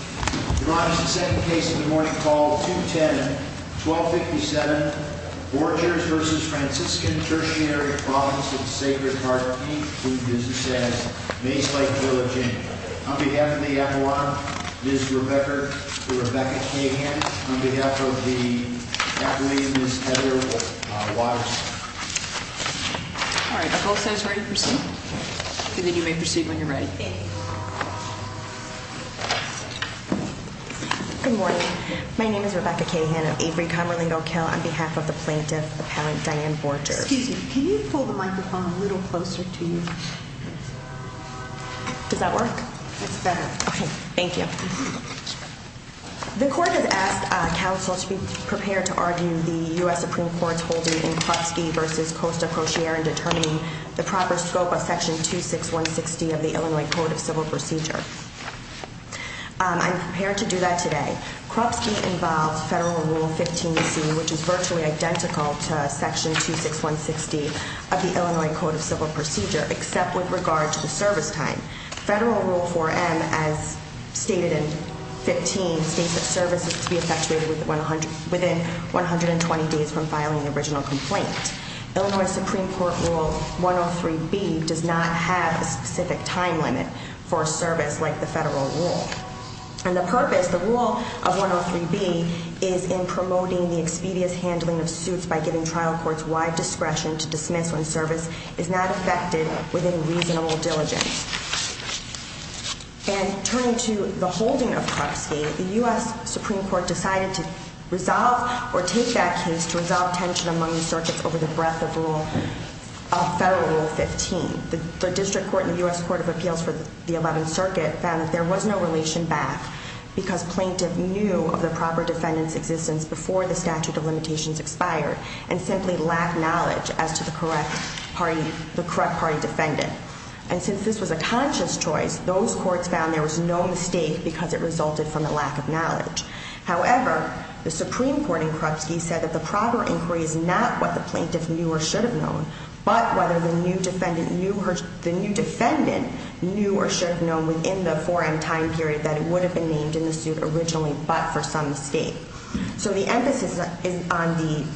Your Honor, this is the second case of the morning called 210-1257, Borchers v. Franciscan Tertiary Province of the Sacred Heart, Inc., who is assessed Mace Lake Village, Inc. On behalf of the acquirer, Ms. Rebecca Cahan. On behalf of the acquirer, Ms. Heather Waters. All right, if all is set, it's ready to proceed. Okay, then you may proceed when you're ready. Good morning. My name is Rebecca Cahan of Avery Comerlingo Kill. On behalf of the plaintiff, the parent, Diane Borchers. Excuse me, can you pull the microphone a little closer to you? Does that work? It's better. Okay, thank you. The court has asked counsel to be prepared to argue the U.S. Supreme Court's holding in Krupski v. Costa-Crociere in determining the proper scope of Section 26160 of the Illinois Code of Civil Procedure. I'm prepared to do that today. Krupski involves Federal Rule 15bc, which is virtually identical to Section 26160 of the Illinois Code of Civil Procedure, except with regard to the service time. Federal Rule 4m, as stated in 15, states that service is to be effectuated within 120 days from filing the original complaint. Illinois Supreme Court Rule 103b does not have a specific time limit for a service like the Federal Rule. And the purpose, the rule of 103b, is in promoting the expedious handling of suits by giving trial courts wide discretion to dismiss when service is not effected within reasonable diligence. And turning to the holding of Krupski, the U.S. Supreme Court decided to resolve or take that case to resolve tension among the circuits over the breadth of Federal Rule 15. The District Court and the U.S. Court of Appeals for the 11th Circuit found that there was no relation back because plaintiff knew of the proper defendant's existence before the statute of limitations expired and simply lacked knowledge as to the correct party defendant. And since this was a conscious choice, those courts found there was no mistake because it resulted from a lack of knowledge. However, the Supreme Court in Krupski said that the proper inquiry is not what the plaintiff knew or should have known, but whether the new defendant knew or should have known within the foreign time period that it would have been named in the suit originally, but for some mistake. So the emphasis is on the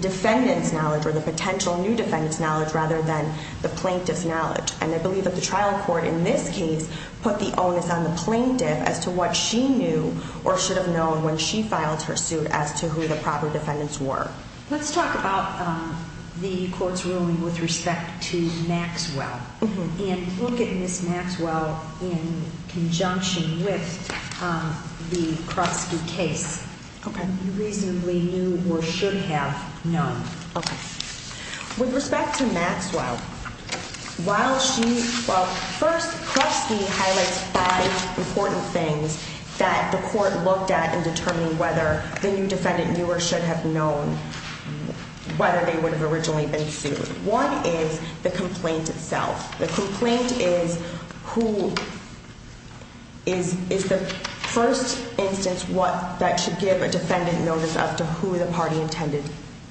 defendant's knowledge or the potential new defendant's knowledge rather than the plaintiff's knowledge. And I believe that the trial court in this case put the onus on the plaintiff as to what she knew or should have known when she filed her suit as to who the proper defendants were. Let's talk about the court's ruling with respect to Maxwell. And look at Ms. Maxwell in conjunction with the Krupski case. Okay. You reasonably knew or should have known. Okay. With respect to Maxwell, while first Krupski highlights five important things that the court looked at in determining whether the new defendant knew or should have known whether they would have originally been sued. One is the complaint itself. The complaint is the first instance that should give a defendant notice as to who the party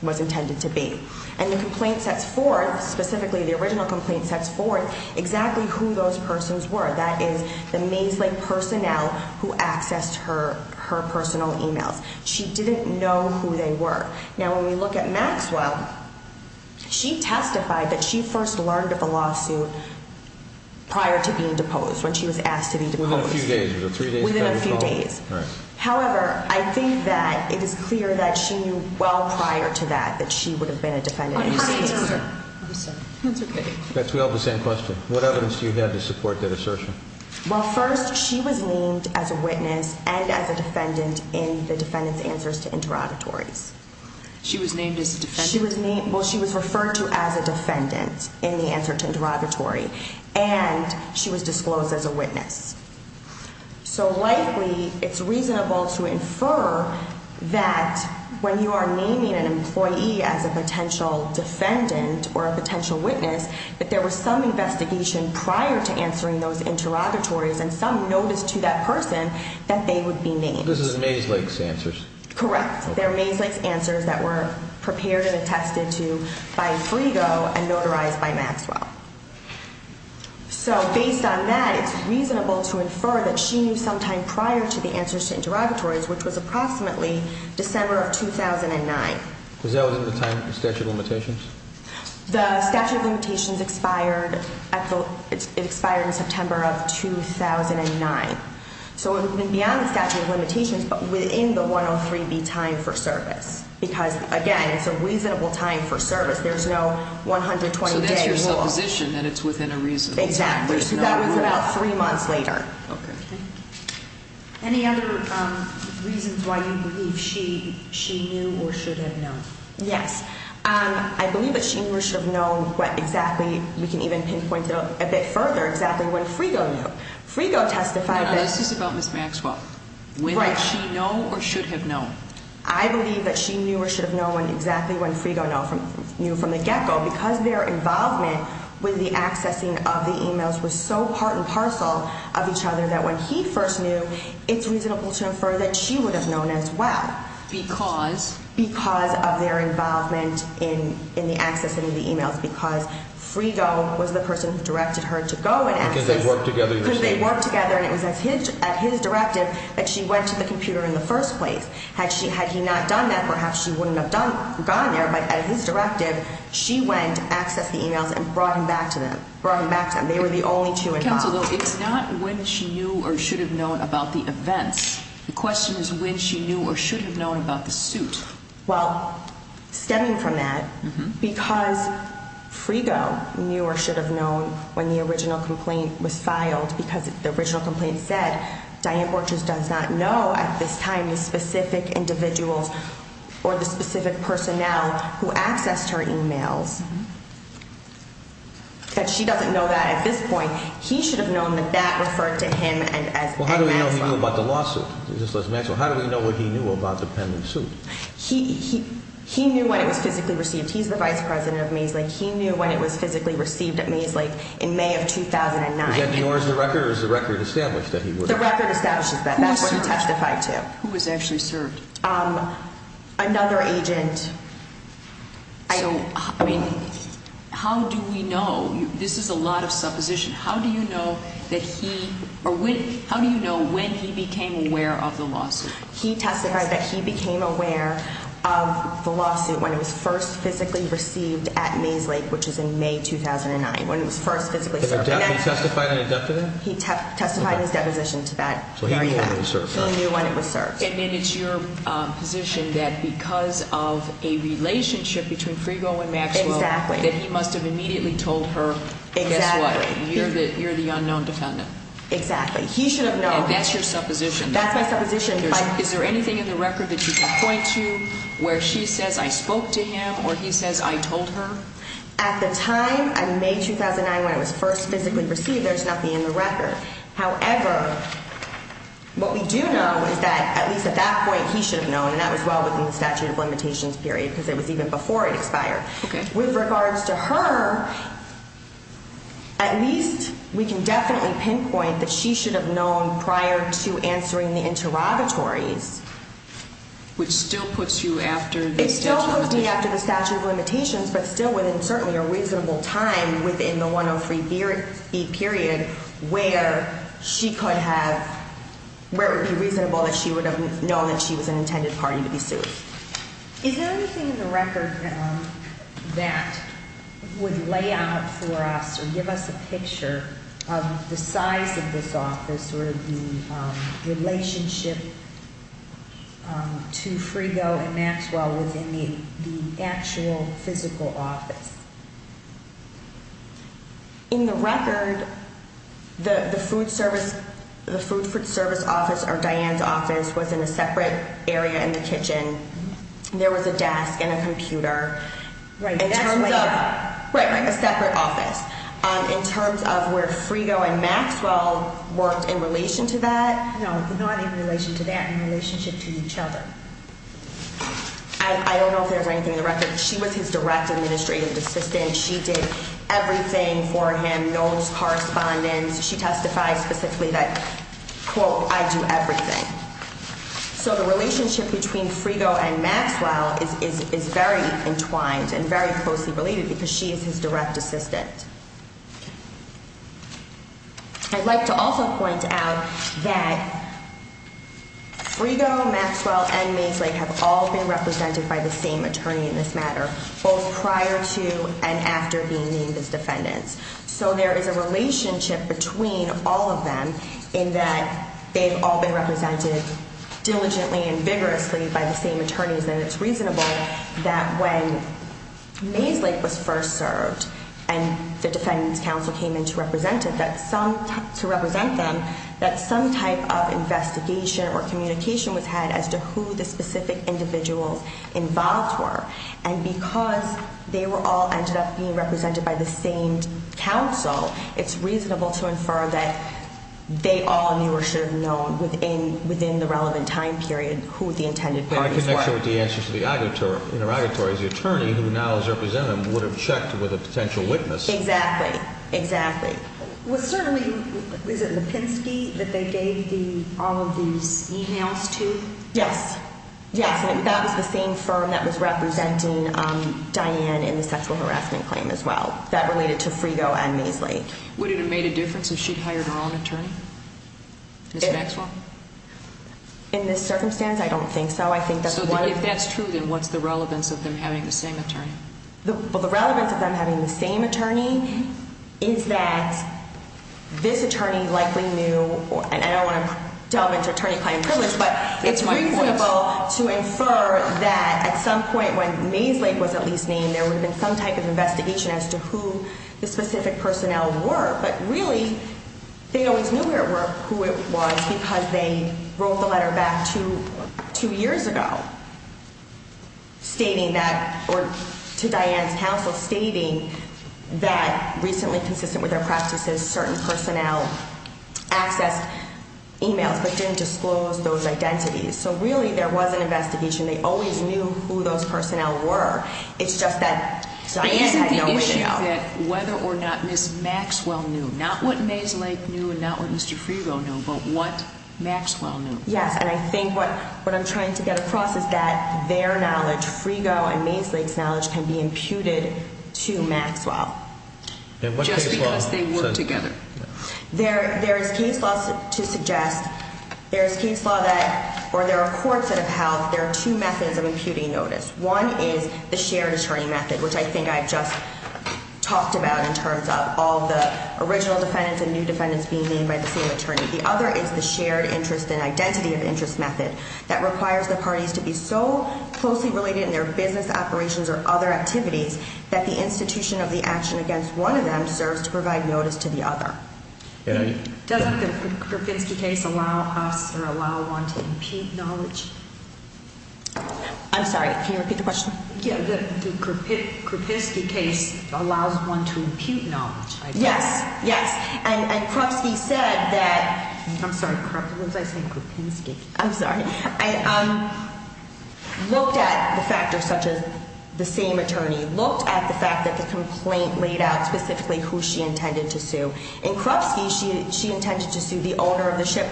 was intended to be. And the complaint sets forth, specifically the original complaint sets forth, exactly who those persons were. That is, the Maeslake personnel who accessed her personal e-mails. She didn't know who they were. Now, when we look at Maxwell, she testified that she first learned of the lawsuit prior to being deposed, when she was asked to be deposed. Within a few days. Within a few days. All right. However, I think that it is clear that she knew well prior to that, that she would have been a defendant in this case. I'm sorry. That's okay. We all have the same question. What evidence do you have to support that assertion? Well, first, she was named as a witness and as a defendant in the defendant's answers to interrogatories. She was named as a defendant? Well, she was referred to as a defendant in the answer to interrogatory. And she was disclosed as a witness. So, likely, it's reasonable to infer that when you are naming an employee as a potential defendant or a potential witness, that there was some investigation prior to answering those interrogatories and some notice to that person that they would be named. This is Maeslake's answers. Correct. They're Maeslake's answers that were prepared and attested to by Frigo and notarized by Maxwell. So, based on that, it's reasonable to infer that she knew sometime prior to the answers to interrogatories, which was approximately December of 2009. Was that within the statute of limitations? The statute of limitations expired in September of 2009. So, it would have been beyond the statute of limitations, but within the 103B time for service. Because, again, it's a reasonable time for service. There's no 120-day rule. It's your supposition that it's within a reasonable time. Exactly. That was about three months later. Okay. Any other reasons why you believe she knew or should have known? Yes. I believe that she knew or should have known what exactly, we can even pinpoint it a bit further, exactly when Frigo knew. Frigo testified that... No, this is about Ms. Maxwell. Right. When did she know or should have known? I believe that she knew or should have known exactly when Frigo knew from the get-go because their involvement with the accessing of the e-mails was so part and parcel of each other that when he first knew, it's reasonable to infer that she would have known as well. Because? Because of their involvement in the accessing of the e-mails because Frigo was the person who directed her to go and access. Because they worked together in the same way. Because they worked together and it was at his directive that she went to the computer in the first place. Had he not done that, perhaps she wouldn't have gone there, but at his directive, she went to access the e-mails and brought them back to him. They were the only two involved. Counsel, though, it's not when she knew or should have known about the events. The question is when she knew or should have known about the suit. Well, stemming from that, because Frigo knew or should have known when the original complaint was filed because the original complaint said, Diane Borges does not know at this time the specific individuals or the specific personnel who accessed her e-mails. But she doesn't know that at this point. He should have known that that referred to him and Maxwell. Well, how do we know he knew about the lawsuit? Just like Maxwell, how do we know what he knew about the pending suit? He knew when it was physically received. He's the vice president of Maeslake. He knew when it was physically received at Maeslake in May of 2009. Is that yours, the record, or is the record established that he was? The record establishes that. That's what he testified to. Who was actually served? Another agent. So, I mean, how do we know? This is a lot of supposition. How do you know that he, or when, how do you know when he became aware of the lawsuit? He testified that he became aware of the lawsuit when it was first physically received at Maeslake, which is in May 2009, when it was first physically served. Did he testify to that? He testified in his deposition to that. So he knew when it was served. He knew when it was served. And then it's your position that because of a relationship between Frigo and Maxwell, that he must have immediately told her, guess what, you're the unknown defendant. Exactly. He should have known. And that's your supposition. That's my supposition. Is there anything in the record that you can point to where she says, I spoke to him, or he says, I told her? At the time, in May 2009, when it was first physically received, there's nothing in the record. However, what we do know is that at least at that point, he should have known, and that was well within the statute of limitations period because it was even before it expired. Okay. With regards to her, at least we can definitely pinpoint that she should have known prior to answering the interrogatories. Which still puts you after the statute of limitations. But still within certainly a reasonable time within the 103B period where she could have, where it would be reasonable that she would have known that she was an intended party to be sued. Is there anything in the record that would lay out for us or give us a picture of the size of this office or the relationship to Frigo and Maxwell within the actual physical office? In the record, the food service office or Diane's office was in a separate area in the kitchen. There was a desk and a computer. Right. A separate office. In terms of where Frigo and Maxwell worked in relation to that? No, not in relation to that, in relationship to each other. I don't know if there's anything in the record. She was his direct administrative assistant. She did everything for him, knows correspondence. She testified specifically that, quote, I do everything. So the relationship between Frigo and Maxwell is very entwined and very closely related because she is his direct assistant. I'd like to also point out that Frigo, Maxwell, and Maeslake have all been represented by the same attorney in this matter, both prior to and after being named as defendants. So there is a relationship between all of them in that they've all been represented diligently and vigorously by the same attorneys, and it's reasonable that when Maeslake was first served and the defendants council came in to represent them, that some type of investigation or communication was had as to who the specific individuals involved were. And because they all ended up being represented by the same council, it's reasonable to infer that they all knew or should have known within the relevant time period who the intended parties were. And in connection with the answer to the auditor, the attorney who now is representing them would have checked with a potential witness. Exactly, exactly. Well, certainly, is it Lipinski that they gave all of these e-mails to? Yes, yes, and that was the same firm that was representing Diane in the sexual harassment claim as well. That related to Frigo and Maeslake. Would it have made a difference if she'd hired her own attorney, Ms. Maxwell? In this circumstance, I don't think so. So if that's true, then what's the relevance of them having the same attorney? Well, the relevance of them having the same attorney is that this attorney likely knew, and I don't want to delve into attorney-client privilege, but it's reasonable to infer that at some point when Maeslake was at least named, there would have been some type of investigation as to who the specific personnel were. But really, they always knew who it was because they wrote the letter back two years ago stating that, or to Diane's counsel stating that, recently consistent with their practices, certain personnel accessed e-mails but didn't disclose those identities. So really there was an investigation. They always knew who those personnel were. It's just that Diane had no way to know. But isn't the issue that whether or not Ms. Maxwell knew, not what Maeslake knew and not what Mr. Frigo knew, but what Maxwell knew? Yes, and I think what I'm trying to get across is that their knowledge, Frigo and Maeslake's knowledge, can be imputed to Maxwell. Just because they work together. There is case law to suggest, there is case law that, or there are courts that have held there are two methods of imputing notice. One is the shared attorney method, which I think I just talked about in terms of all the original defendants and new defendants being named by the same attorney. The other is the shared interest and identity of interest method that requires the parties to be so closely related in their business operations or other activities that the institution of the action against one of them serves to provide notice to the other. Doesn't the Krupinski case allow us or allow one to impute knowledge? I'm sorry, can you repeat the question? Yeah, the Krupinski case allows one to impute knowledge. Yes, yes, and Krupski said that, I'm sorry, Krupinski, I'm sorry, looked at the factors such as the same attorney, looked at the fact that the complaint laid out specifically who she intended to sue. In Krupski, she intended to sue the owner of the ship,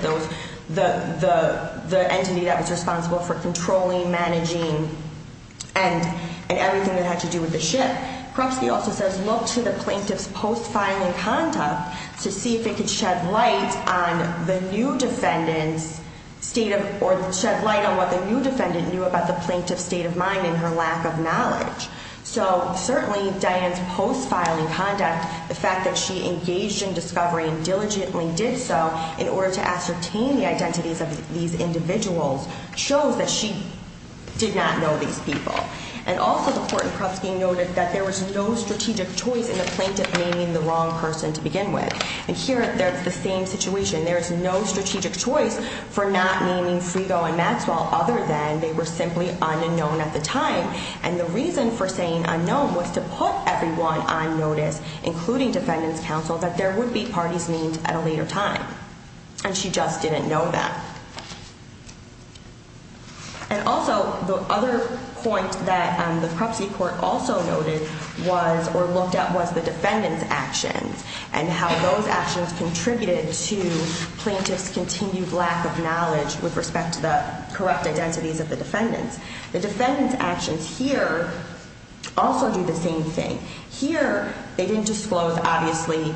the entity that was responsible for controlling, managing, and everything that had to do with the ship. Krupski also says, look to the plaintiff's post-filing conduct to see if it could shed light on the new defendant's state of, or shed light on what the new defendant knew about the plaintiff's state of mind and her lack of knowledge. So certainly, Diane's post-filing conduct, the fact that she engaged in discovery and diligently did so in order to ascertain the identities of these individuals, shows that she did not know these people. And also, the court in Krupski noted that there was no strategic choice in the plaintiff naming the wrong person to begin with. And here, that's the same situation. There is no strategic choice for not naming Frigo and Maxwell other than they were simply unknown at the time. And the reason for saying unknown was to put everyone on notice, including defendant's counsel, that there would be parties named at a later time. And she just didn't know that. And also, the other point that the Krupski court also noted was, or looked at, was the defendant's actions and how those actions contributed to plaintiff's continued lack of knowledge with respect to the corrupt identities of the defendants. The defendant's actions here also do the same thing. Here, they didn't disclose, obviously,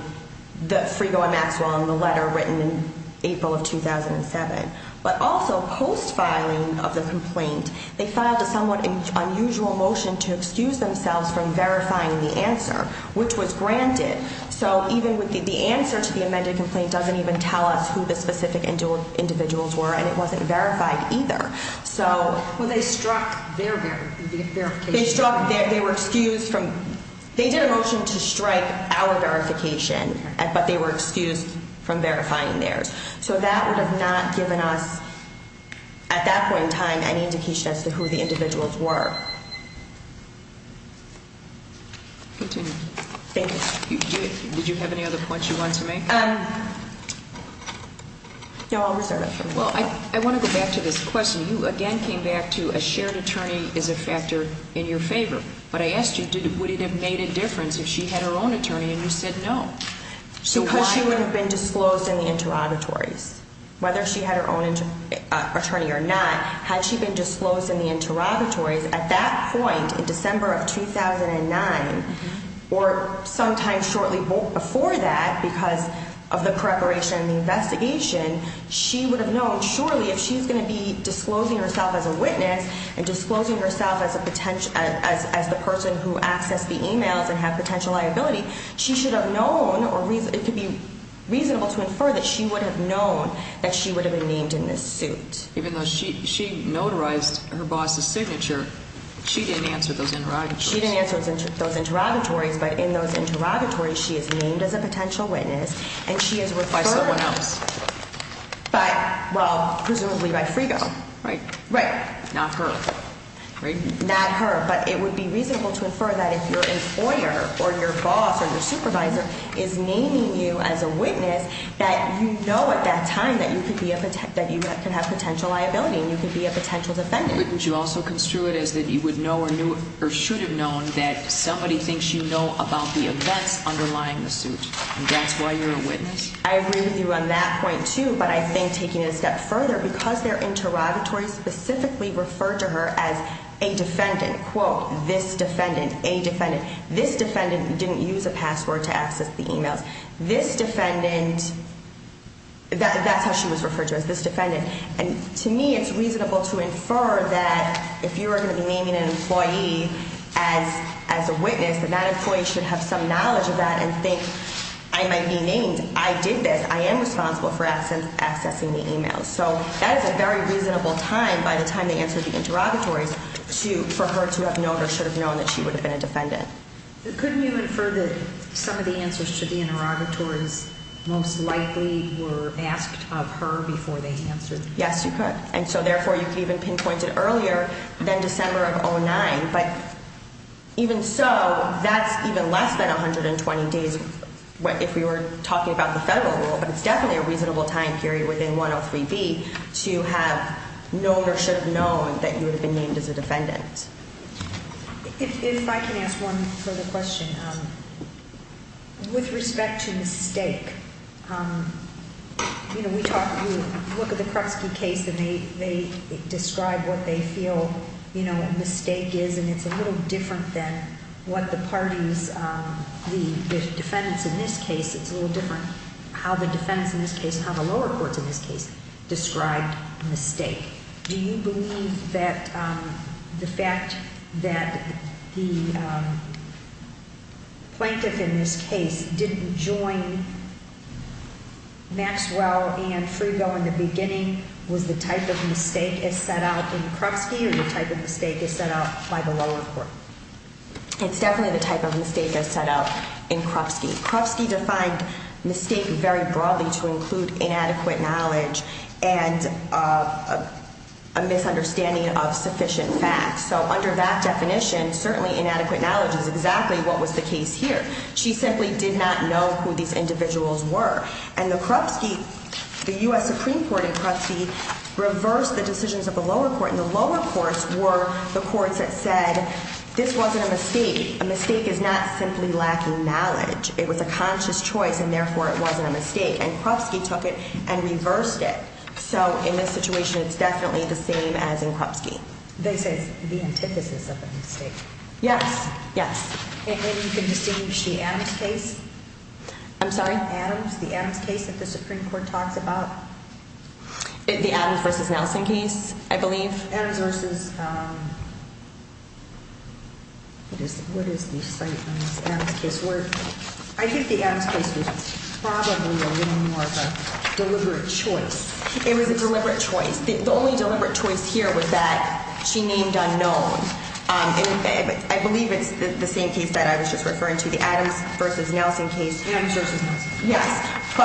the Frigo and Maxwell in the letter written in April of 2007. But also, post-filing of the complaint, they filed a somewhat unusual motion to excuse themselves from verifying the answer, which was granted. So even with the answer to the amended complaint doesn't even tell us who the specific individuals were, and it wasn't verified either. Well, they struck their verification. They struck their, they were excused from, they did a motion to strike our verification, but they were excused from verifying theirs. So that would have not given us, at that point in time, any indication as to who the individuals were. Continue. Thank you. Did you have any other points you wanted to make? No, I'll reserve it for later. Well, I want to go back to this question. You, again, came back to a shared attorney is a factor in your favor. But I asked you, would it have made a difference if she had her own attorney, and you said no. Because she would have been disclosed in the interrogatories. Whether she had her own attorney or not, had she been disclosed in the interrogatories, at that point, in December of 2009, or sometime shortly before that, because of the preparation and the investigation, she would have known, surely, if she's going to be disclosing herself as a witness, and disclosing herself as the person who accessed the emails and had potential liability, she should have known, or it could be reasonable to infer, that she would have known that she would have been named in this suit. Even though she notarized her boss's signature, she didn't answer those interrogatories. She didn't answer those interrogatories. But in those interrogatories, she is named as a potential witness. And she is referred... By someone else. But, well, presumably by Frigo. Right. Right. Not her. Not her. But it would be reasonable to infer that if your employer or your boss or your supervisor is naming you as a witness, that you know at that time that you could have potential liability and you could be a potential defendant. Wouldn't you also construe it as that you would know or should have known that somebody thinks you know about the events underlying the suit, and that's why you're a witness? I agree with you on that point, too, but I think taking it a step further, because their interrogatories specifically referred to her as a defendant, quote, this defendant, a defendant, this defendant didn't use a password to access the emails, this defendant... That's how she was referred to, as this defendant. And to me, it's reasonable to infer that if you are going to be naming an employee as a witness, that that employee should have some knowledge of that and think, I might be named, I did this, I am responsible for accessing the emails. So that is a very reasonable time, by the time they answer the interrogatories, for her to have known or should have known that she would have been a defendant. Couldn't you infer that some of the answers to the interrogatories most likely were asked of her before they answered? Yes, you could. And so, therefore, you could even pinpoint it earlier than December of 2009, but even so, that's even less than 120 days if we were talking about the federal rule, but it's definitely a reasonable time period within 103B to have known or should have known that you would have been named as a defendant. If I can ask one further question. With respect to mistake, you know, we talk, we look at the Krupski case, and they describe what they feel, you know, a mistake is, and it's a little different than what the parties, the defendants in this case. It's a little different how the defendants in this case and how the lower courts in this case described mistake. Do you believe that the fact that the plaintiff in this case didn't join Maxwell and Freebell in the beginning was the type of mistake as set out in Krupski or the type of mistake as set out by the lower court? It's definitely the type of mistake as set out in Krupski. Krupski defined mistake very broadly to include inadequate knowledge and a misunderstanding of sufficient facts. So under that definition, certainly inadequate knowledge is exactly what was the case here. She simply did not know who these individuals were. And the Krupski, the U.S. Supreme Court in Krupski reversed the decisions of the lower court, and the lower courts were the courts that said this wasn't a mistake. A mistake is not simply lacking knowledge. Krupski took it and reversed it. So in this situation, it's definitely the same as in Krupski. They say it's the antithesis of the mistake. Yes. Yes. And you can distinguish the Adams case? I'm sorry? Adams, the Adams case that the Supreme Court talks about? The Adams v. Nelson case, I believe. Adams v. what is the site on this Adams case? I think the Adams case was probably a little more of a deliberate choice. It was a deliberate choice. The only deliberate choice here was that she named unknowns. I believe it's the same case that I was just referring to, the Adams v. Nelson case. Adams v. Nelson. Yes.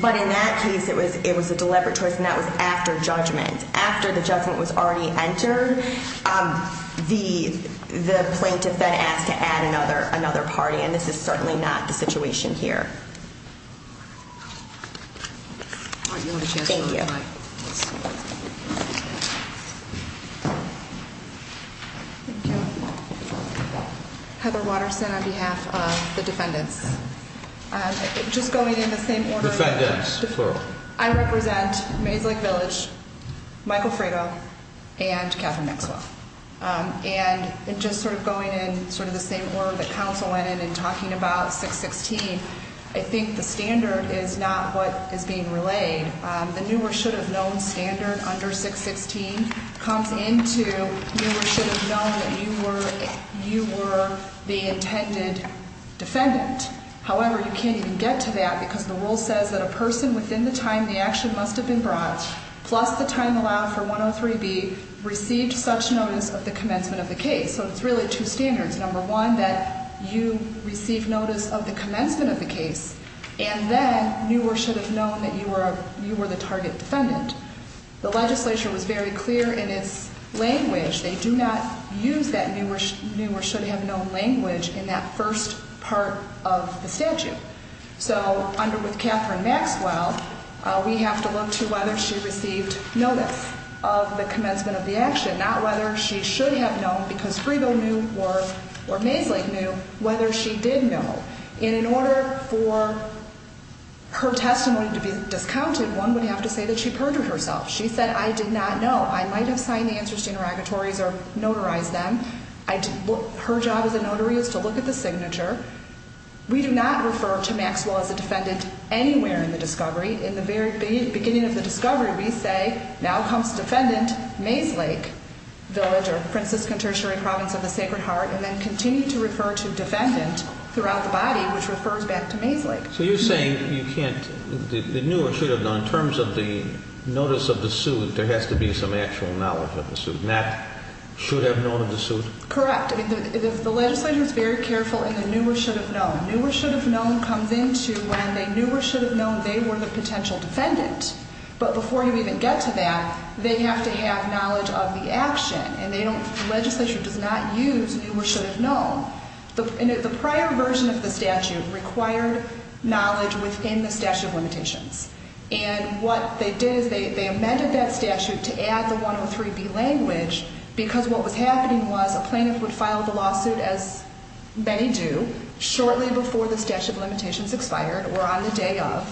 But in that case, it was a deliberate choice, and that was after judgment. After the judgment was already entered, the plaintiff then asked to add another party. And this is certainly not the situation here. Thank you. Thank you. Heather Watterson on behalf of the defendants. Just going in the same order. Defendants, plural. I represent Maze Lake Village, Michael Fredo, and Katherine Maxwell. And just sort of going in sort of the same order that counsel went in and talking about 616, I think the standard is not what is being relayed. The new or should have known standard under 616 comes into new or should have known that you were the intended defendant. However, you can't even get to that because the rule says that a person within the time the action must have been brought, plus the time allowed for 103B, received such notice of the commencement of the case. So it's really two standards. Number one, that you received notice of the commencement of the case, and then knew or should have known that you were the target defendant. The legislature was very clear in its language. They do not use that new or should have known language in that first part of the statute. So under with Katherine Maxwell, we have to look to whether she received notice of the commencement of the action, not whether she should have known because Fredo knew or Maze Lake knew whether she did know. And in order for her testimony to be discounted, one would have to say that she perjured herself. She said, I did not know. I might have signed the answers to interrogatories or notarized them. Her job as a notary is to look at the signature. We do not refer to Maxwell as a defendant anywhere in the discovery. In the very beginning of the discovery, we say, now comes defendant Maze Lake Village or Franciscan Tertiary Province of the Sacred Heart, and then continue to refer to defendant throughout the body, which refers back to Maze Lake. So you're saying the new or should have known, in terms of the notice of the suit, there has to be some actual knowledge of the suit, not should have known of the suit? Correct. The legislature is very careful in the new or should have known. New or should have known comes into when they knew or should have known they were the potential defendant. But before you even get to that, they have to have knowledge of the action. And the legislature does not use new or should have known. The prior version of the statute required knowledge within the statute of limitations. And what they did is they amended that statute to add the 103B language because what was happening was a plaintiff would file the lawsuit, as many do, shortly before the statute of limitations expired or on the day of.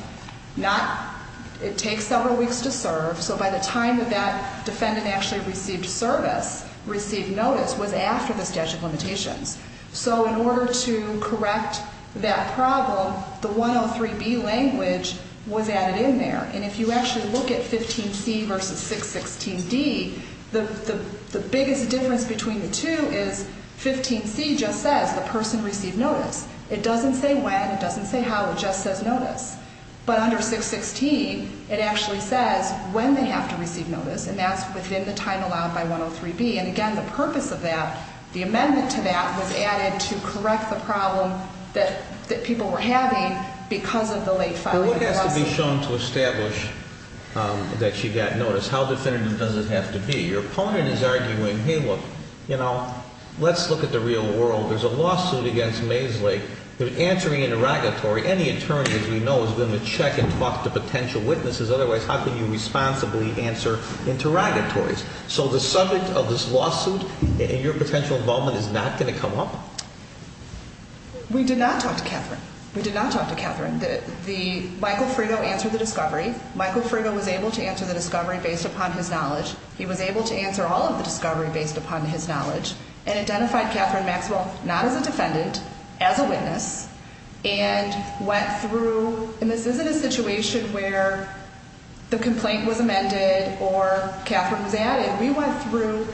It takes several weeks to serve. So by the time that that defendant actually received service, received notice, was after the statute of limitations. So in order to correct that problem, the 103B language was added in there. And if you actually look at 15C versus 616D, the biggest difference between the two is 15C just says the person received notice. It doesn't say when. It doesn't say how. It just says notice. But under 616, it actually says when they have to receive notice. And that's within the time allowed by 103B. And, again, the purpose of that, the amendment to that was added to correct the problem that people were having because of the late filing of the lawsuit. But what has to be shown to establish that she got notice? How definitive does it have to be? Your opponent is arguing, hey, look, you know, let's look at the real world. There's a lawsuit against Maisley. They're answering interrogatory. Any attorney, as we know, is going to check and talk to potential witnesses. Otherwise, how can you responsibly answer interrogatories? So the subject of this lawsuit and your potential involvement is not going to come up? We did not talk to Catherine. We did not talk to Catherine. Michael Frigo answered the discovery. Michael Frigo was able to answer the discovery based upon his knowledge. He was able to answer all of the discovery based upon his knowledge and identified Catherine Maxwell not as a defendant, as a witness, and went through, and this isn't a situation where the complaint was amended or Catherine was added. We went through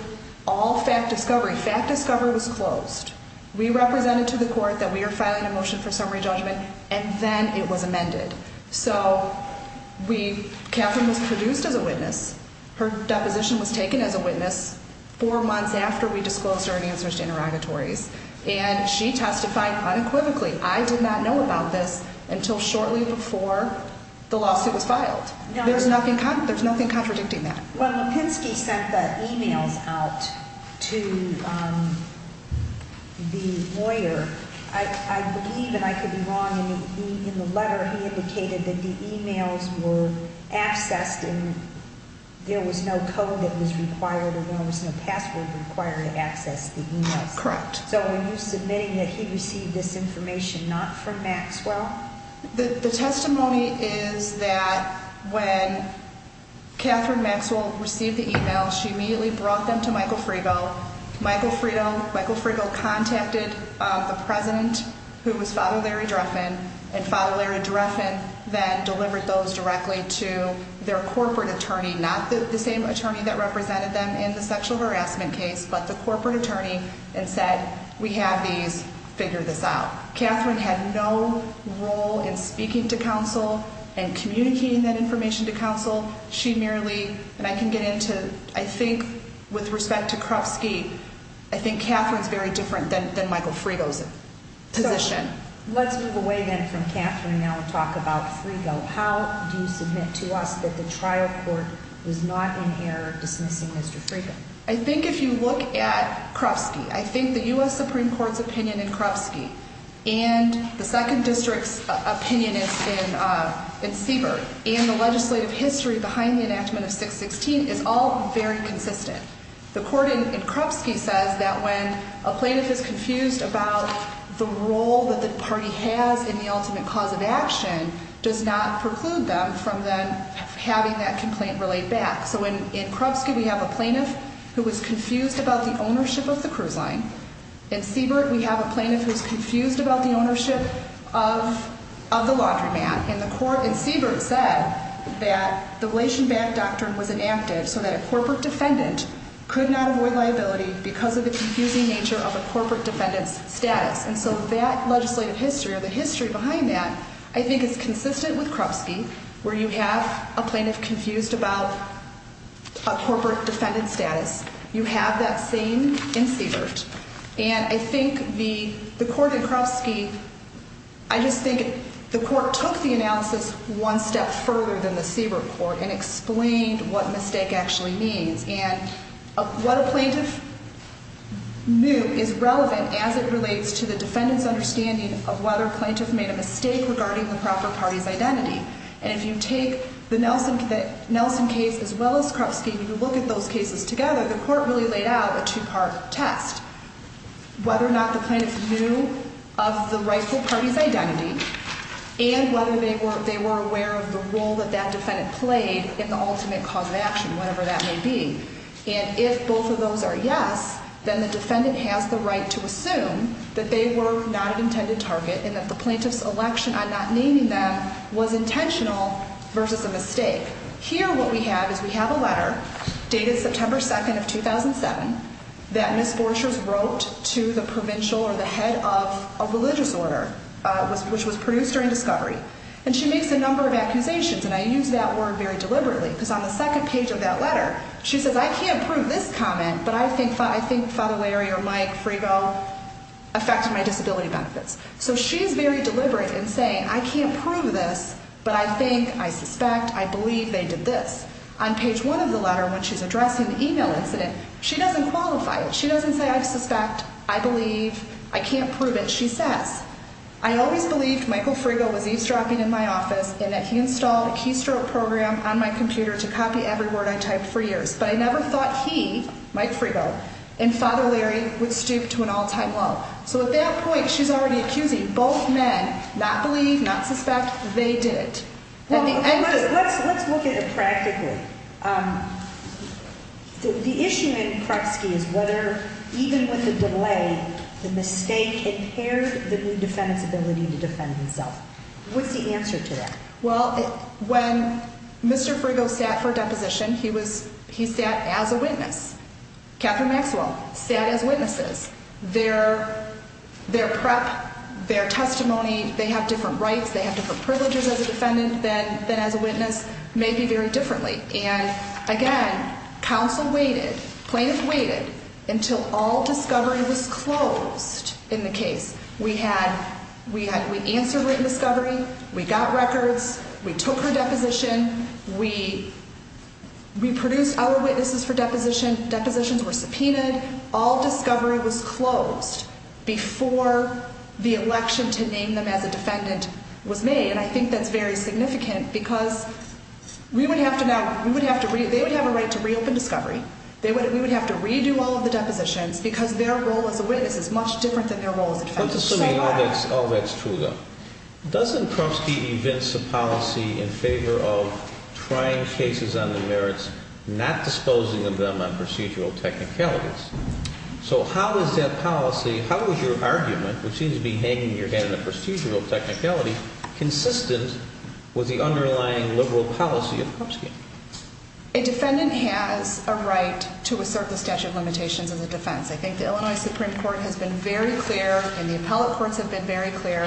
all fact discovery. Fact discovery was closed. We represented to the court that we are filing a motion for summary judgment, and then it was amended. So we, Catherine was produced as a witness. Her deposition was taken as a witness four months after we disclosed her answers to interrogatories. And she testified unequivocally. I did not know about this until shortly before the lawsuit was filed. There's nothing contradicting that. When Lipinski sent the e-mails out to the lawyer, I believe, and I could be wrong, in the letter he indicated that the e-mails were accessed and there was no code that was required So are you submitting that he received this information not from Maxwell? The testimony is that when Catherine Maxwell received the e-mails, she immediately brought them to Michael Frigo. Michael Frigo contacted the president, who was Father Larry Dreffin, and Father Larry Dreffin then delivered those directly to their corporate attorney, not the same attorney that represented them in the sexual harassment case, but the corporate attorney, and said, we have these, figure this out. Catherine had no role in speaking to counsel and communicating that information to counsel. She merely, and I can get into, I think, with respect to Krovsky, I think Catherine's very different than Michael Frigo's position. Let's move away then from Catherine and now talk about Frigo. How do you submit to us that the trial court was not in error dismissing Mr. Frigo? I think if you look at Krovsky, I think the U.S. Supreme Court's opinion in Krovsky and the Second District's opinion in Siebert, and the legislative history behind the enactment of 616 is all very consistent. The court in Krovsky says that when a plaintiff is confused about the role that the party has in the ultimate cause of action does not preclude them from then having that complaint relayed back. So in Krovsky we have a plaintiff who was confused about the ownership of the cruise line. In Siebert we have a plaintiff who's confused about the ownership of the laundromat. And Siebert said that the relation back doctrine was enacted so that a corporate defendant could not avoid liability because of the confusing nature of a corporate defendant's status. And so that legislative history or the history behind that I think is consistent with Krovsky where you have a plaintiff confused about a corporate defendant's status. You have that same in Siebert. And I think the court in Krovsky, I just think the court took the analysis one step further than the Siebert court and explained what mistake actually means. And what a plaintiff knew is relevant as it relates to the defendant's understanding of whether a plaintiff made a mistake regarding the proper party's identity. And if you take the Nelson case as well as Krovsky and you look at those cases together, the court really laid out a two-part test. Whether or not the plaintiff knew of the rightful party's identity and whether they were aware of the role that that defendant played in the ultimate cause of action, whatever that may be. And if both of those are yes, then the defendant has the right to assume that they were not an intended target and that the plaintiff's election on not naming them was intentional versus a mistake. Here what we have is we have a letter dated September 2nd of 2007 that Ms. Borchers wrote to the provincial or the head of a religious order which was produced during discovery. And she makes a number of accusations, and I use that word very deliberately because on the second page of that letter she says, I can't prove this comment, but I think Father Larry or Mike Frigo affected my disability benefits. So she's very deliberate in saying, I can't prove this, but I think, I suspect, I believe they did this. On page one of the letter when she's addressing the email incident, she doesn't qualify it. She doesn't say, I suspect, I believe, I can't prove it. She says, I always believed Michael Frigo was eavesdropping in my office and that he installed a keystroke program on my computer to copy every word I typed for years. But I never thought he, Mike Frigo, and Father Larry would stoop to an all-time low. So at that point she's already accusing both men, not believe, not suspect, they did it. Let's look at it practically. The issue in Krupski is whether even with the delay, the mistake impaired the new defendant's ability to defend himself. What's the answer to that? Well, when Mr. Frigo sat for deposition, he sat as a witness. Catherine Maxwell sat as witnesses. Their prep, their testimony, they have different rights, they have different privileges as a defendant than as a witness, may be very differently. And again, counsel waited, plaintiffs waited, until all discovery was closed in the case. We had, we answered written discovery, we got records, we took her deposition, we produced our witnesses for deposition, depositions were subpoenaed, all discovery was closed before the election to name them as a defendant was made. And I think that's very significant because we would have to now, we would have to, they would have a right to reopen discovery, we would have to redo all of the depositions because their role as a witness is much different than their role as a defendant. All that's true, though. Doesn't Krupski evince a policy in favor of trying cases on the merits, not disposing of them on procedural technicalities? So how is that policy, how is your argument, which seems to be hanging in your head in a procedural technicality, consistent with the underlying liberal policy of Krupski? A defendant has a right to assert the statute of limitations as a defense. I think the Illinois Supreme Court has been very clear, and the appellate courts have been very clear,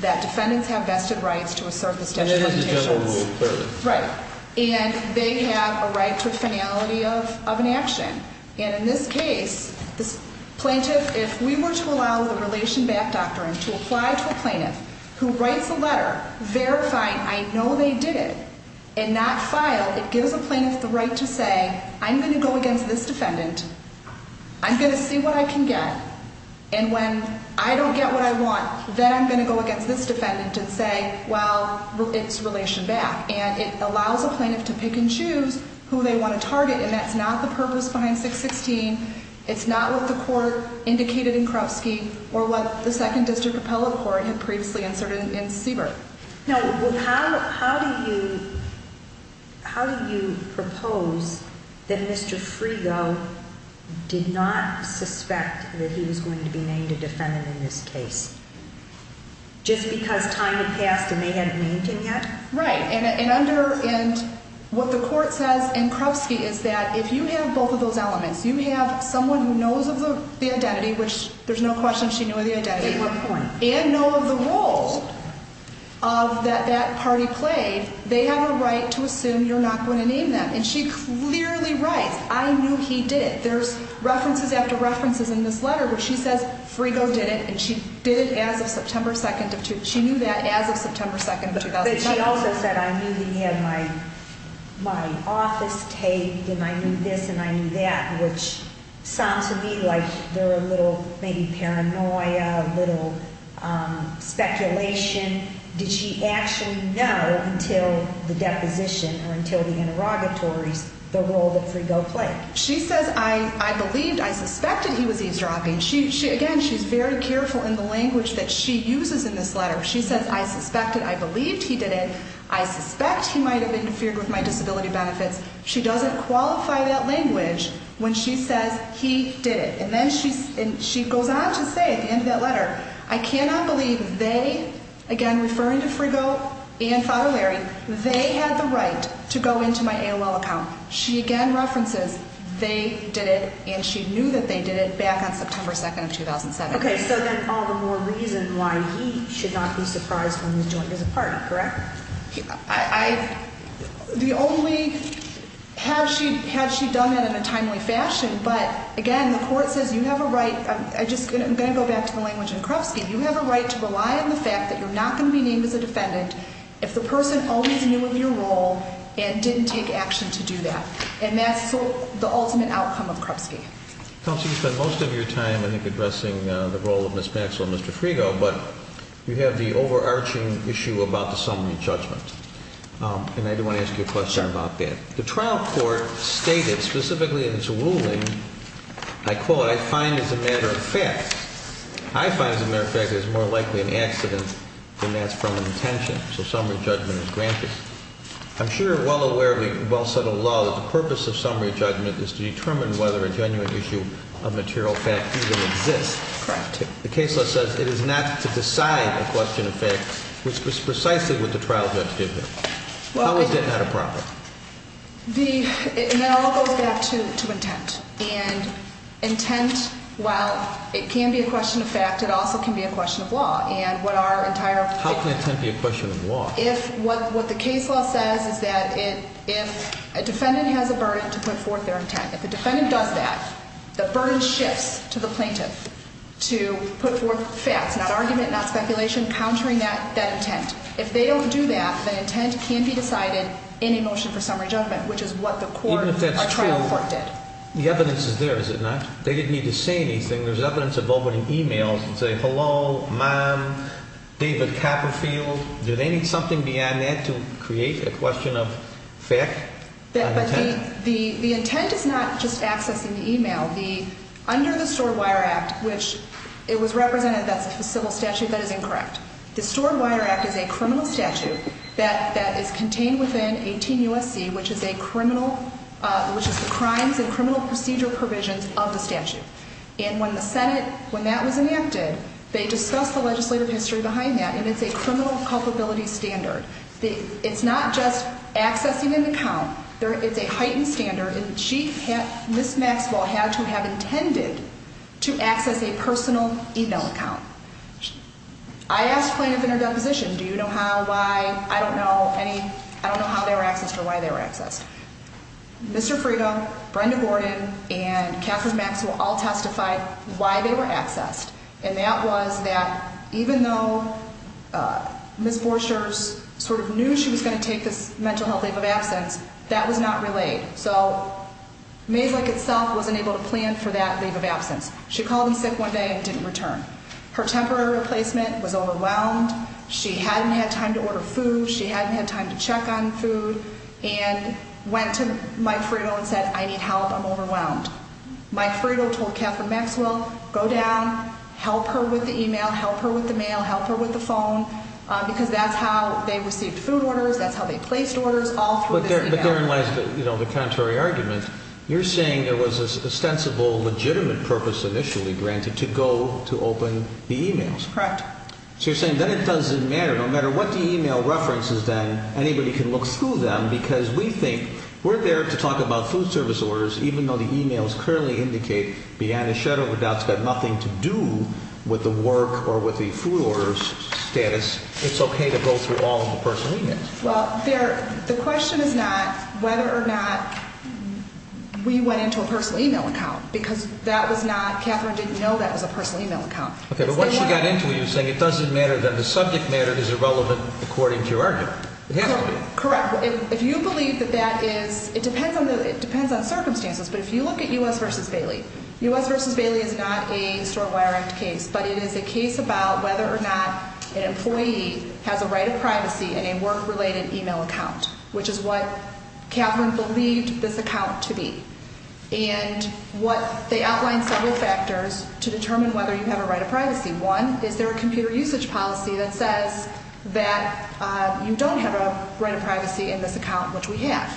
that defendants have vested rights to assert the statute of limitations. And that is the general rule, clearly. Right. And they have a right to a finality of an action. And in this case, this plaintiff, if we were to allow the Relation Back Doctrine to apply to a plaintiff who writes a letter verifying, I know they did it, and not file, it gives a plaintiff the right to say, I'm going to go against this defendant, I'm going to see what I can get, and when I don't get what I want, then I'm going to go against this defendant and say, well, it's Relation Back. And it allows a plaintiff to pick and choose who they want to target, and that's not the purpose behind 616. It's not what the court indicated in Krupski or what the Second District Appellate Court had previously answered in Siebert. Now, how do you propose that Mr. Frigo did not suspect that he was going to be named a defendant in this case, just because time had passed and they hadn't named him yet? Right. And what the court says in Krupski is that if you have both of those elements, you have someone who knows of the identity, which there's no question she knew of the identity. At what point? And know of the role that that party played, they have a right to assume you're not going to name them. And she clearly writes, I knew he did it. There's references after references in this letter where she says Frigo did it, and she did it as of September 2nd. She knew that as of September 2nd of 2009. But she also said, I knew that he had my office taped and I knew this and I knew that, which sounds to me like there were a little maybe paranoia, a little speculation. Did she actually know until the deposition or until the interrogatories the role that Frigo played? She says, I believed, I suspected he was eavesdropping. Again, she's very careful in the language that she uses in this letter. She says, I suspected, I believed he did it, I suspect he might have interfered with my disability benefits. She doesn't qualify that language when she says he did it. And then she goes on to say at the end of that letter, I cannot believe they, again referring to Frigo and Father Larry, they had the right to go into my AOL account. She again references they did it and she knew that they did it back on September 2nd of 2007. Okay, so then all the more reason why he should not be surprised when he's joined as a partner, correct? The only, had she done it in a timely fashion, but again, the court says you have a right, I'm going to go back to the language in Krupski, you have a right to rely on the fact that you're not going to be named as a defendant if the person always knew of your role and didn't take action to do that. And that's the ultimate outcome of Krupski. Counsel, you spent most of your time, I think, addressing the role of Ms. Maxwell and Mr. Frigo, but you have the overarching issue about the summary judgment. And I do want to ask you a question about that. The trial court stated specifically in its ruling, I quote, I find as a matter of fact, I find as a matter of fact it's more likely an accident than that's from an intention. So summary judgment is granted. I'm sure you're well aware of the well-settled law that the purpose of summary judgment is to determine whether a genuine issue of material fact even exists. Correct. The case law says it is not to decide a question of fact, which was precisely what the trial judge did there. How is that not a problem? That all goes back to intent. And intent, while it can be a question of fact, it also can be a question of law. How can intent be a question of law? If what the case law says is that if a defendant has a burden to put forth their intent, if the defendant does that, the burden shifts to the plaintiff to put forth facts, not argument, not speculation, countering that intent. If they don't do that, then intent can be decided in a motion for summary judgment, which is what the court or trial court did. The evidence is there, is it not? They didn't need to say anything. There's evidence of opening e-mails and saying, hello, ma'am, David Capperfield. Do they need something beyond that to create a question of fact? The intent is not just accessing the e-mail. Under the Stored Wire Act, which it was represented that's a civil statute, that is incorrect. The Stored Wire Act is a criminal statute that is contained within 18 U.S.C., which is the crimes and criminal procedure provisions of the statute. And when the Senate, when that was enacted, they discussed the legislative history behind that, and it's a criminal culpability standard. It's not just accessing an account. It's a heightened standard, and she, Ms. Maxwell, had to have intended to access a personal e-mail account. I asked plaintiff in her deposition, do you know how, why, I don't know any, I don't know how they were accessed or why they were accessed. Mr. Frieda, Brenda Gordon, and Catherine Maxwell all testified why they were accessed, and that was that even though Ms. Borchers sort of knew she was going to take this mental health leave of absence, that was not relayed. So Maeslick itself wasn't able to plan for that leave of absence. She called in sick one day and didn't return. Her temporary replacement was overwhelmed. She hadn't had time to order food. She hadn't had time to check on food and went to Mike Frieda and said, I need help. I'm overwhelmed. Mike Frieda told Catherine Maxwell, go down, help her with the e-mail, help her with the mail, help her with the phone, because that's how they received food orders, that's how they placed orders, all through this e-mail. But therein lies the contrary argument. You're saying there was an ostensible, legitimate purpose initially granted to go to open the e-mails. Correct. So you're saying then it doesn't matter, no matter what the e-mail reference is then, anybody can look through them because we think we're there to talk about food service orders even though the e-mails clearly indicate beyond a shadow of a doubt it's got nothing to do with the work or with the food orders status, it's okay to go through all of the personal e-mails. Well, the question is not whether or not we went into a personal e-mail account, because that was not, Catherine didn't know that was a personal e-mail account. Okay, but once she got into it, you're saying it doesn't matter, then the subject matter is irrelevant according to your argument. It has to be. Correct. If you believe that that is, it depends on circumstances, but if you look at U.S. v. Bailey, U.S. v. Bailey is not a Store Wire Act case, but it is a case about whether or not an employee has a right of privacy in a work-related e-mail account, which is what Catherine believed this account to be. And they outlined several factors to determine whether you have a right of privacy. One, is there a computer usage policy that says that you don't have a right of privacy in this account, which we have.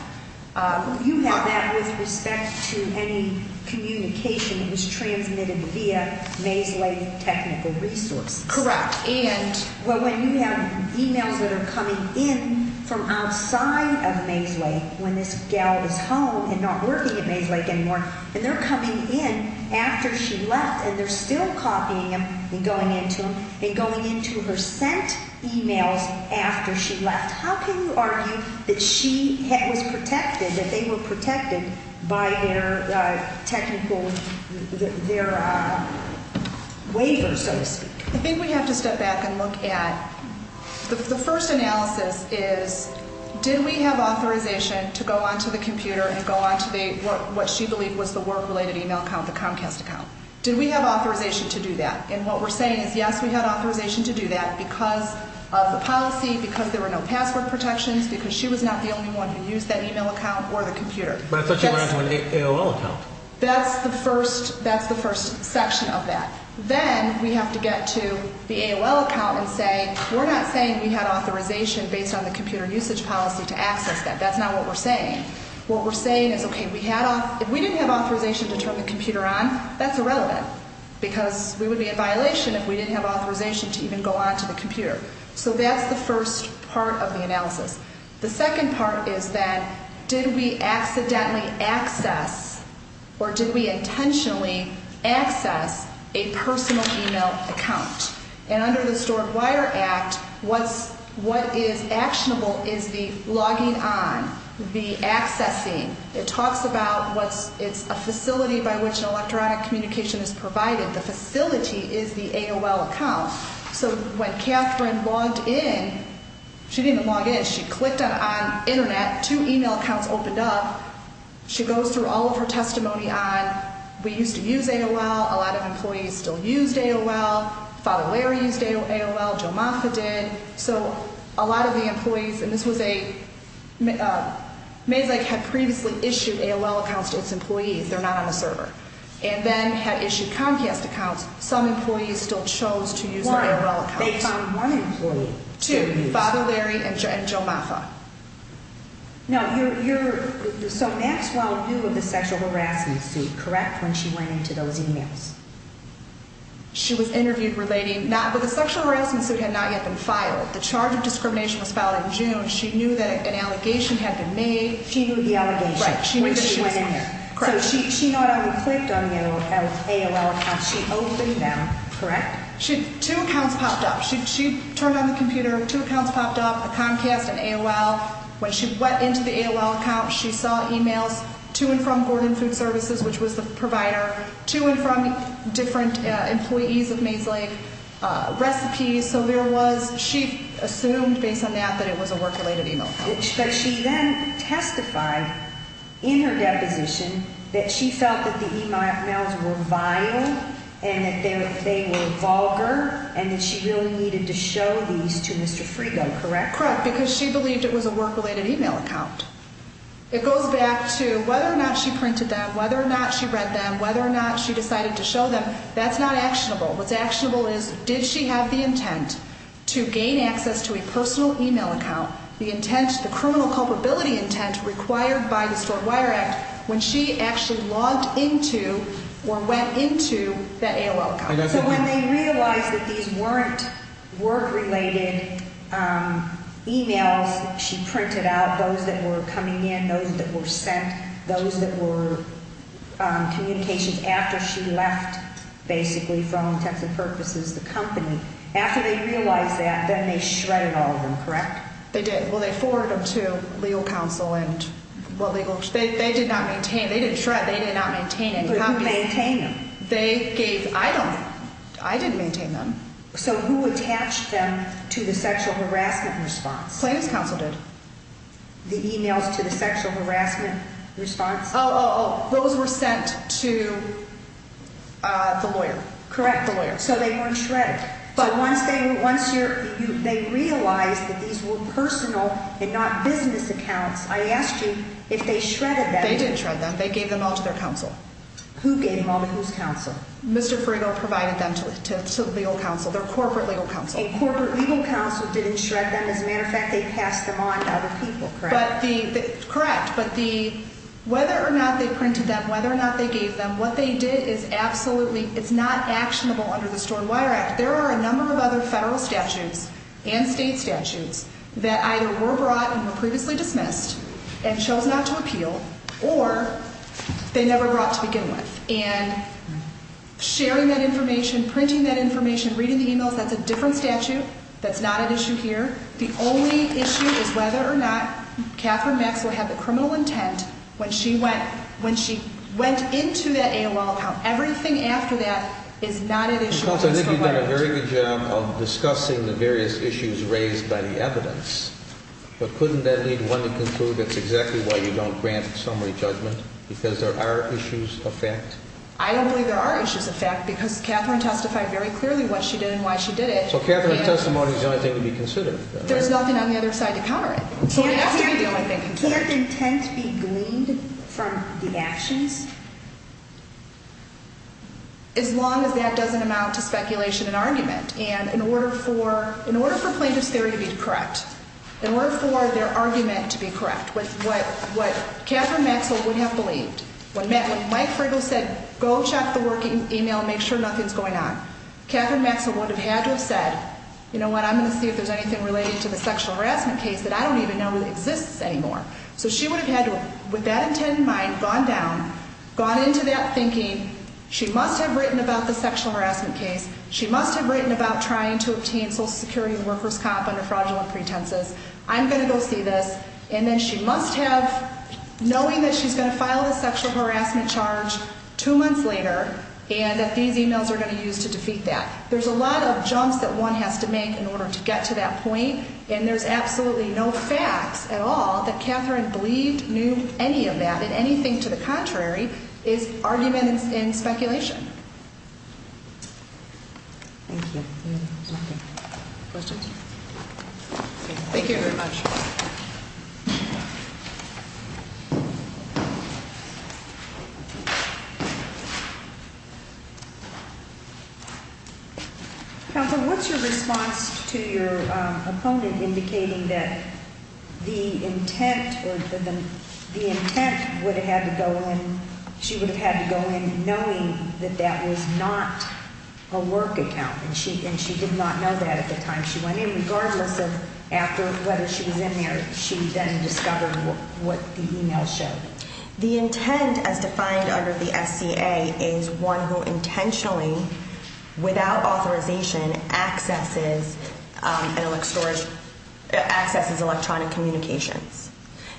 You have that with respect to any communication that was transmitted via Maeslake Technical Resources. Correct. And? Well, when you have e-mails that are coming in from outside of Maeslake, when this gal is home and not working at Maeslake anymore, and they're coming in after she left and they're still copying them and going into them and going into her sent e-mails after she left, how can you argue that she was protected, that they were protected by their technical, their waiver, so to speak? I think we have to step back and look at, the first analysis is, did we have authorization to go onto the computer and go onto what she believed was the work-related e-mail account, the Comcast account? Did we have authorization to do that? And what we're saying is, yes, we had authorization to do that because of the policy, because there were no password protections, because she was not the only one who used that e-mail account or the computer. But I thought she went onto an AOL account. That's the first section of that. Then we have to get to the AOL account and say, we're not saying we had authorization based on the computer usage policy to access that. That's not what we're saying. What we're saying is, okay, if we didn't have authorization to turn the computer on, that's irrelevant, because we would be in violation if we didn't have authorization to even go onto the computer. The second part is that, did we accidentally access or did we intentionally access a personal e-mail account? And under the Stored Wire Act, what is actionable is the logging on, the accessing. It talks about, it's a facility by which an electronic communication is provided. The facility is the AOL account. So when Catherine logged in, she didn't even log in. She clicked on Internet. Two e-mail accounts opened up. She goes through all of her testimony on, we used to use AOL. A lot of employees still used AOL. Father Larry used AOL. Joe Moffitt did. So a lot of the employees, and this was a, Maeslake had previously issued AOL accounts to its employees. They're not on the server. And then had issued Comcast accounts. Some employees still chose to use their AOL accounts. One, they found one employee. Two, Father Larry and Joe Moffitt. Now, you're, so Maxwell knew of the sexual harassment suit, correct, when she went into those e-mails? She was interviewed relating, but the sexual harassment suit had not yet been filed. The charge of discrimination was filed in June. She knew that an allegation had been made. She knew the allegation. Right. Because she went in there. Correct. So she not only clicked on the AOL account, she opened them, correct? Two accounts popped up. She turned on the computer, two accounts popped up, the Comcast and AOL. When she went into the AOL account, she saw e-mails to and from Gordon Food Services, which was the provider, to and from different employees of Maeslake, recipes. So there was, she assumed, based on that, that it was a work-related e-mail. But she then testified in her deposition that she felt that the e-mails were vile and that they were vulgar and that she really needed to show these to Mr. Frigo, correct? Correct, because she believed it was a work-related e-mail account. It goes back to whether or not she printed them, whether or not she read them, whether or not she decided to show them, that's not actionable. What's actionable is did she have the intent to gain access to a personal e-mail account, the intent, the criminal culpability intent required by the Stored Wire Act, when she actually logged into or went into the AOL account? So when they realized that these weren't work-related e-mails, she printed out those that were coming in, those that were sent, those that were communications after she left, basically, for all intents and purposes, the company. After they realized that, then they shredded all of them, correct? They did. Well, they forwarded them to legal counsel and what legal counsel? They did not maintain, they didn't shred, they did not maintain any copies. Who maintained them? They gave, I don't know. I didn't maintain them. So who attached them to the sexual harassment response? Claims counsel did. The e-mails to the sexual harassment response? Oh, those were sent to the lawyer. Correct. The lawyer. So they weren't shredded. But once they realized that these were personal and not business accounts, I asked you if they shredded them. They didn't shred them. They gave them all to their counsel. Who gave them all to whose counsel? Mr. Frigo provided them to legal counsel, their corporate legal counsel. And corporate legal counsel didn't shred them. As a matter of fact, they passed them on to other people, correct? Correct. But whether or not they printed them, whether or not they gave them, what they did is absolutely, it's not actionable under the Stored Wire Act. There are a number of other federal statutes and state statutes that either were brought and were previously dismissed and chose not to appeal or they never brought to begin with. And sharing that information, printing that information, reading the e-mails, that's a different statute. That's not an issue here. The only issue is whether or not Kathryn Maxwell had the criminal intent when she went into that AOL account. Everything after that is not an issue of the Stored Wire Act. Counsel, I think you've done a very good job of discussing the various issues raised by the evidence. But couldn't that lead one to conclude that's exactly why you don't grant summary judgment, because there are issues of fact? I don't believe there are issues of fact because Kathryn testified very clearly what she did and why she did it. So Kathryn's testimony is the only thing to be considered. There's nothing on the other side to counter it. Can't intent be gleaned from the actions? As long as that doesn't amount to speculation and argument. And in order for plaintiff's theory to be correct, in order for their argument to be correct with what Kathryn Maxwell would have believed, when Mike Friegel said go check the working e-mail and make sure nothing's going on, Kathryn Maxwell would have had to have said, you know what, I'm going to see if there's anything related to the sexual harassment case that I don't even know exists anymore. So she would have had to, with that intent in mind, gone down, gone into that thinking, she must have written about the sexual harassment case. She must have written about trying to obtain Social Security workers' comp under fraudulent pretenses. I'm going to go see this. And then she must have, knowing that she's going to file the sexual harassment charge two months later, and that these e-mails are going to be used to defeat that. There's a lot of jumps that one has to make in order to get to that point. And there's absolutely no facts at all that Kathryn believed knew any of that. And anything to the contrary is arguments and speculation. Thank you. Any other questions? Thank you very much. Counsel, what's your response to your opponent indicating that the intent would have had to go in, she would have had to go in knowing that that was not a work account, and she did not know that at the time she went in, regardless of whether she was in there, she then discovered what the e-mail showed? The intent, as defined under the SCA, is one who intentionally, without authorization, accesses electronic communications.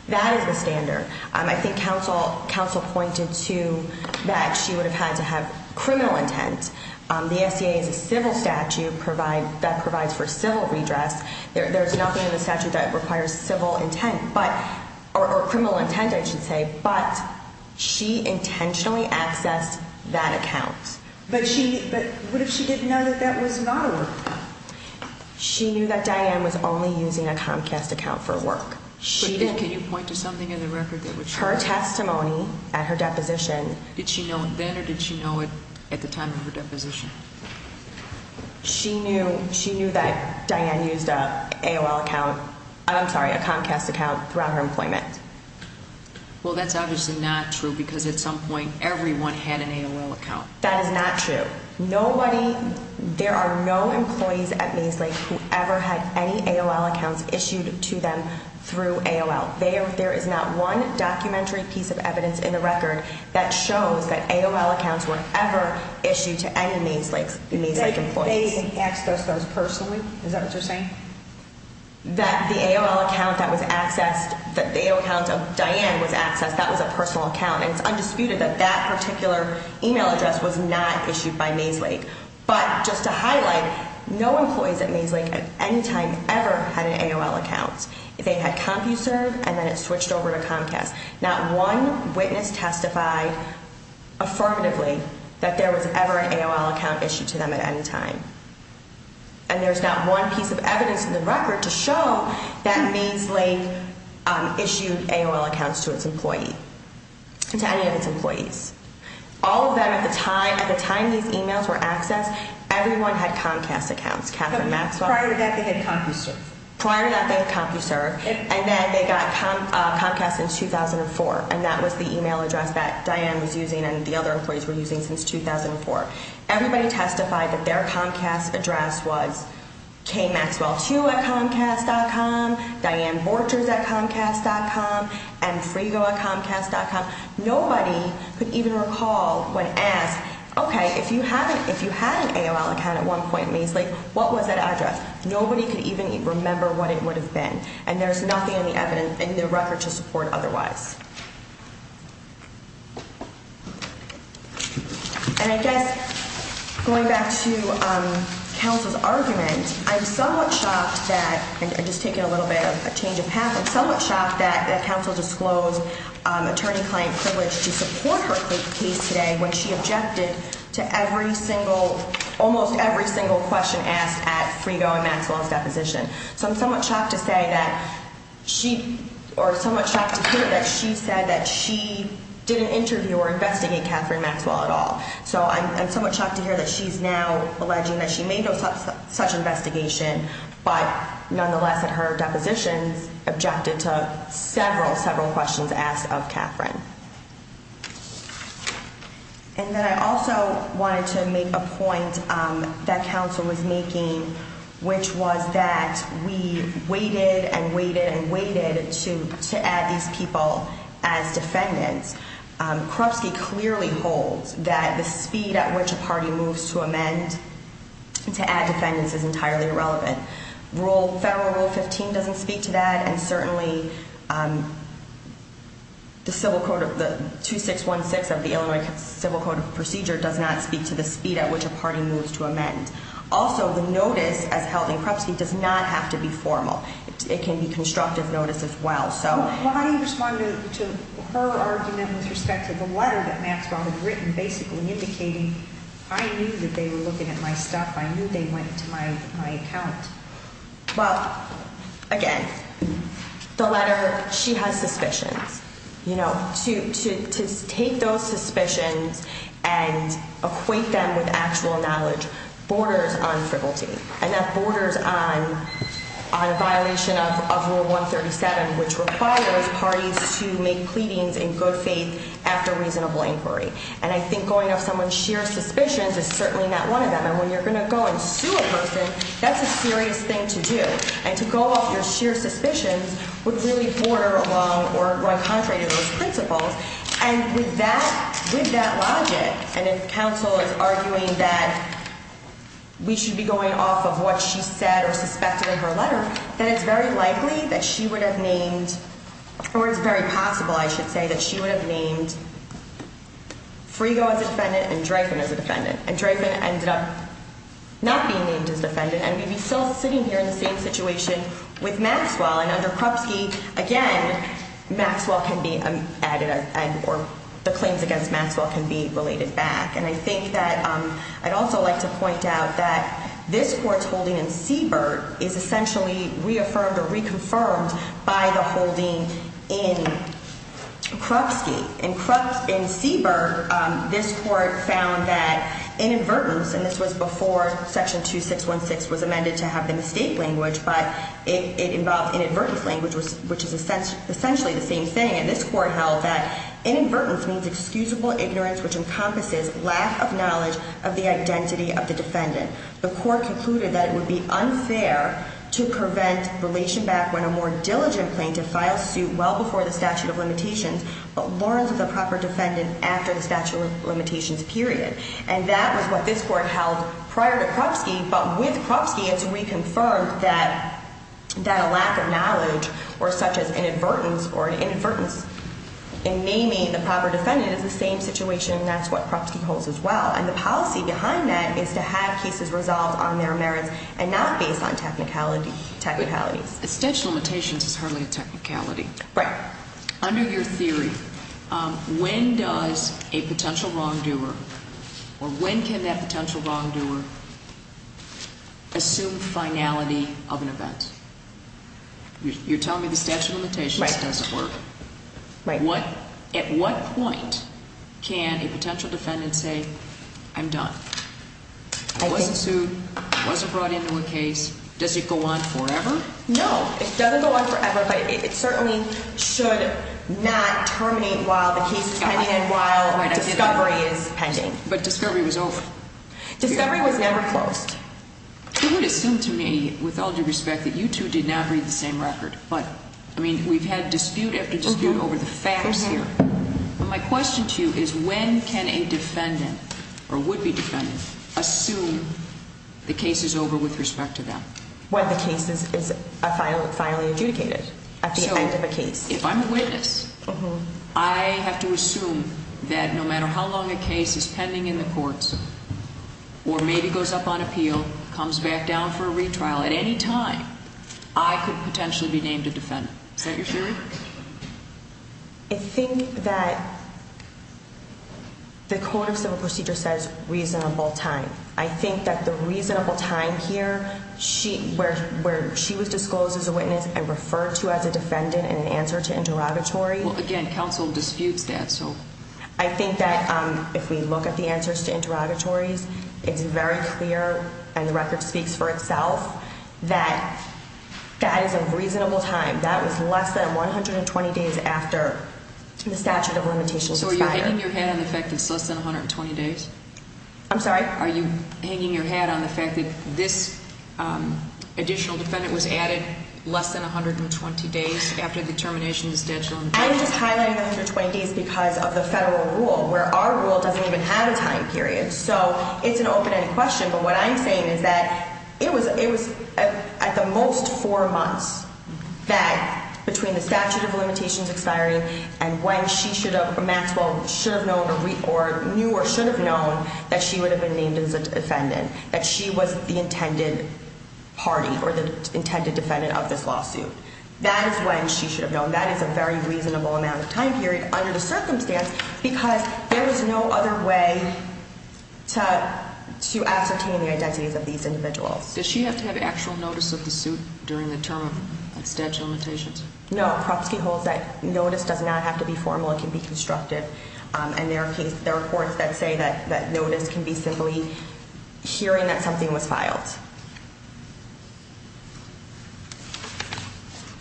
That is the standard. I think counsel pointed to that she would have had to have criminal intent. The SCA is a civil statute that provides for civil redress. There's nothing in the statute that requires civil intent, or criminal intent, I should say. But she intentionally accessed that account. But what if she didn't know that that was not a work account? She knew that Diane was only using a Comcast account for work. Can you point to something in the record that would show that? Her testimony at her deposition. Did she know then or did she know it at the time of her deposition? She knew that Diane used an AOL account, I'm sorry, a Comcast account throughout her employment. Well, that's obviously not true because at some point everyone had an AOL account. That is not true. Nobody, there are no employees at Maeslake who ever had any AOL accounts issued to them through AOL. There is not one documentary piece of evidence in the record that shows that AOL accounts were ever issued to any Maeslake employees. They accessed those personally? Is that what you're saying? That the AOL account that was accessed, that the AOL account of Diane was accessed, that was a personal account. And it's undisputed that that particular email address was not issued by Maeslake. But just to highlight, no employees at Maeslake at any time ever had an AOL account. They had CompuServe and then it switched over to Comcast. Not one witness testified affirmatively that there was ever an AOL account issued to them at any time. And there's not one piece of evidence in the record to show that Maeslake issued AOL accounts to its employee, to any of its employees. All of them at the time, at the time these emails were accessed, everyone had Comcast accounts. Katherine Maxwell? Prior to that they had CompuServe. Prior to that they had CompuServe. And then they got Comcast in 2004. And that was the email address that Diane was using and the other employees were using since 2004. Everybody testified that their Comcast address was kmaxwell2 at Comcast.com, dianeborchers at Comcast.com, and frigo at Comcast.com. Nobody could even recall when asked, okay, if you had an AOL account at one point at Maeslake, what was that address? Nobody could even remember what it would have been. And there's nothing in the record to support otherwise. And I guess going back to counsel's argument, I'm somewhat shocked that, and just taking a little bit of a change of path, I'm somewhat shocked that counsel disclosed attorney-client privilege to support her case today when she objected to every single, almost every single question asked at Frigo and Maxwell's deposition. So I'm somewhat shocked to say that she, or somewhat shocked to hear that she said that she didn't interview or investigate Katherine Maxwell at all. So I'm somewhat shocked to hear that she's now alleging that she made no such investigation, but nonetheless at her depositions objected to several, several questions asked of Katherine. And then I also wanted to make a point that counsel was making, which was that we waited and waited and waited to add these people as defendants. Krupski clearly holds that the speed at which a party moves to amend, to add defendants, is entirely irrelevant. Federal Rule 15 doesn't speak to that, and certainly the 2616 of the Illinois Civil Code of Procedure does not speak to the speed at which a party moves to amend. Also, the notice as held in Krupski does not have to be formal. Well, how do you respond to her argument with respect to the letter that Maxwell had written basically indicating, I knew that they were looking at my stuff, I knew they went to my account? Well, again, the letter, she has suspicions. You know, to take those suspicions and equate them with actual knowledge borders on frivolity. And that borders on a violation of Rule 137, which requires parties to make pleadings in good faith after reasonable inquiry. And I think going off someone's sheer suspicions is certainly not one of them. And when you're going to go and sue a person, that's a serious thing to do. And to go off your sheer suspicions would really border along or run contrary to those principles. And with that logic, and if counsel is arguing that we should be going off of what she said or suspected in her letter, then it's very likely that she would have named, or it's very possible, I should say, that she would have named Frigo as a defendant and Dreyfus as a defendant. And Dreyfus ended up not being named as a defendant, and we'd be still sitting here in the same situation with Maxwell. And under Krupski, again, Maxwell can be added, or the claims against Maxwell can be related back. And I think that I'd also like to point out that this Court's holding in Siebert is essentially reaffirmed or reconfirmed by the holding in Krupski. In Siebert, this Court found that inadvertence, and this was before Section 2616 was amended to have the mistake language, but it involved inadvertence language, which is essentially the same thing. And this Court held that inadvertence means excusable ignorance, which encompasses lack of knowledge of the identity of the defendant. The Court concluded that it would be unfair to prevent relation back when a more diligent plaintiff files suit well before the statute of limitations but learns of the proper defendant after the statute of limitations period. And that was what this Court held prior to Krupski. But with Krupski, it's reconfirmed that a lack of knowledge or such as inadvertence or inadvertence in naming the proper defendant is the same situation, and that's what Krupski holds as well. And the policy behind that is to have cases resolved on their merits and not based on technicalities. The statute of limitations is hardly a technicality. Right. Under your theory, when does a potential wrongdoer or when can that potential wrongdoer assume finality of an event? You're telling me the statute of limitations doesn't work? Right. At what point can a potential defendant say, I'm done? I wasn't sued. I wasn't brought into a case. Does it go on forever? No. It doesn't go on forever, but it certainly should not terminate while the case is pending and while discovery is pending. But discovery was over. Discovery was never closed. Who would assume to me, with all due respect, that you two did not read the same record? But, I mean, we've had dispute after dispute over the facts here. My question to you is when can a defendant or would-be defendant assume the case is over with respect to them? When the case is finally adjudicated at the end of a case. So, if I'm a witness, I have to assume that no matter how long a case is pending in the courts or maybe goes up on appeal, comes back down for a retrial, at any time, I could potentially be named a defendant. Is that your theory? I think that the code of civil procedure says reasonable time. I think that the reasonable time here where she was disclosed as a witness and referred to as a defendant in an answer to interrogatory. Well, again, counsel disputes that, so. I think that if we look at the answers to interrogatories, it's very clear, and the record speaks for itself, that that is a reasonable time. That was less than 120 days after the statute of limitations expired. So, are you hitting your head on the fact that it's less than 120 days? I'm sorry? Are you hanging your head on the fact that this additional defendant was added less than 120 days after the termination of the statute of limitations? I'm just highlighting the 120 days because of the federal rule, where our rule doesn't even have a time period. So, it's an open-ended question, but what I'm saying is that it was at the most four months that, between the statute of limitations expiring, and when she should have, or Maxwell, should have known, or knew or should have known that she would have been named as a defendant, that she was the intended party or the intended defendant of this lawsuit. That is when she should have known. That is a very reasonable amount of time period under the circumstance because there is no other way to ascertain the identities of these individuals. Does she have to have actual notice of the suit during the term of statute of limitations? No, Kroposky holds that notice does not have to be formal. It can be constructive, and there are reports that say that notice can be simply hearing that something was filed.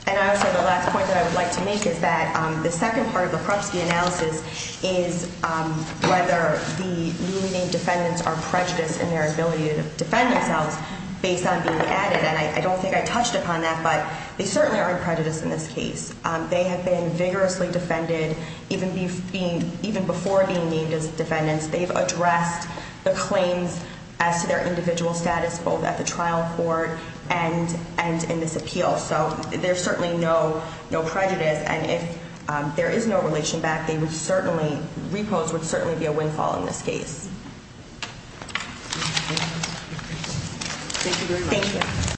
And also, the last point that I would like to make is that the second part of the Kroposky analysis is whether the newly named defendants are prejudiced in their ability to defend themselves based on being added. And I don't think I touched upon that, but they certainly aren't prejudiced in this case. They have been vigorously defended even before being named as defendants. They've addressed the claims as to their individual status, both at the trial court and in this appeal. So there's certainly no prejudice. And if there is no relation back, repose would certainly be a windfall in this case. Thank you.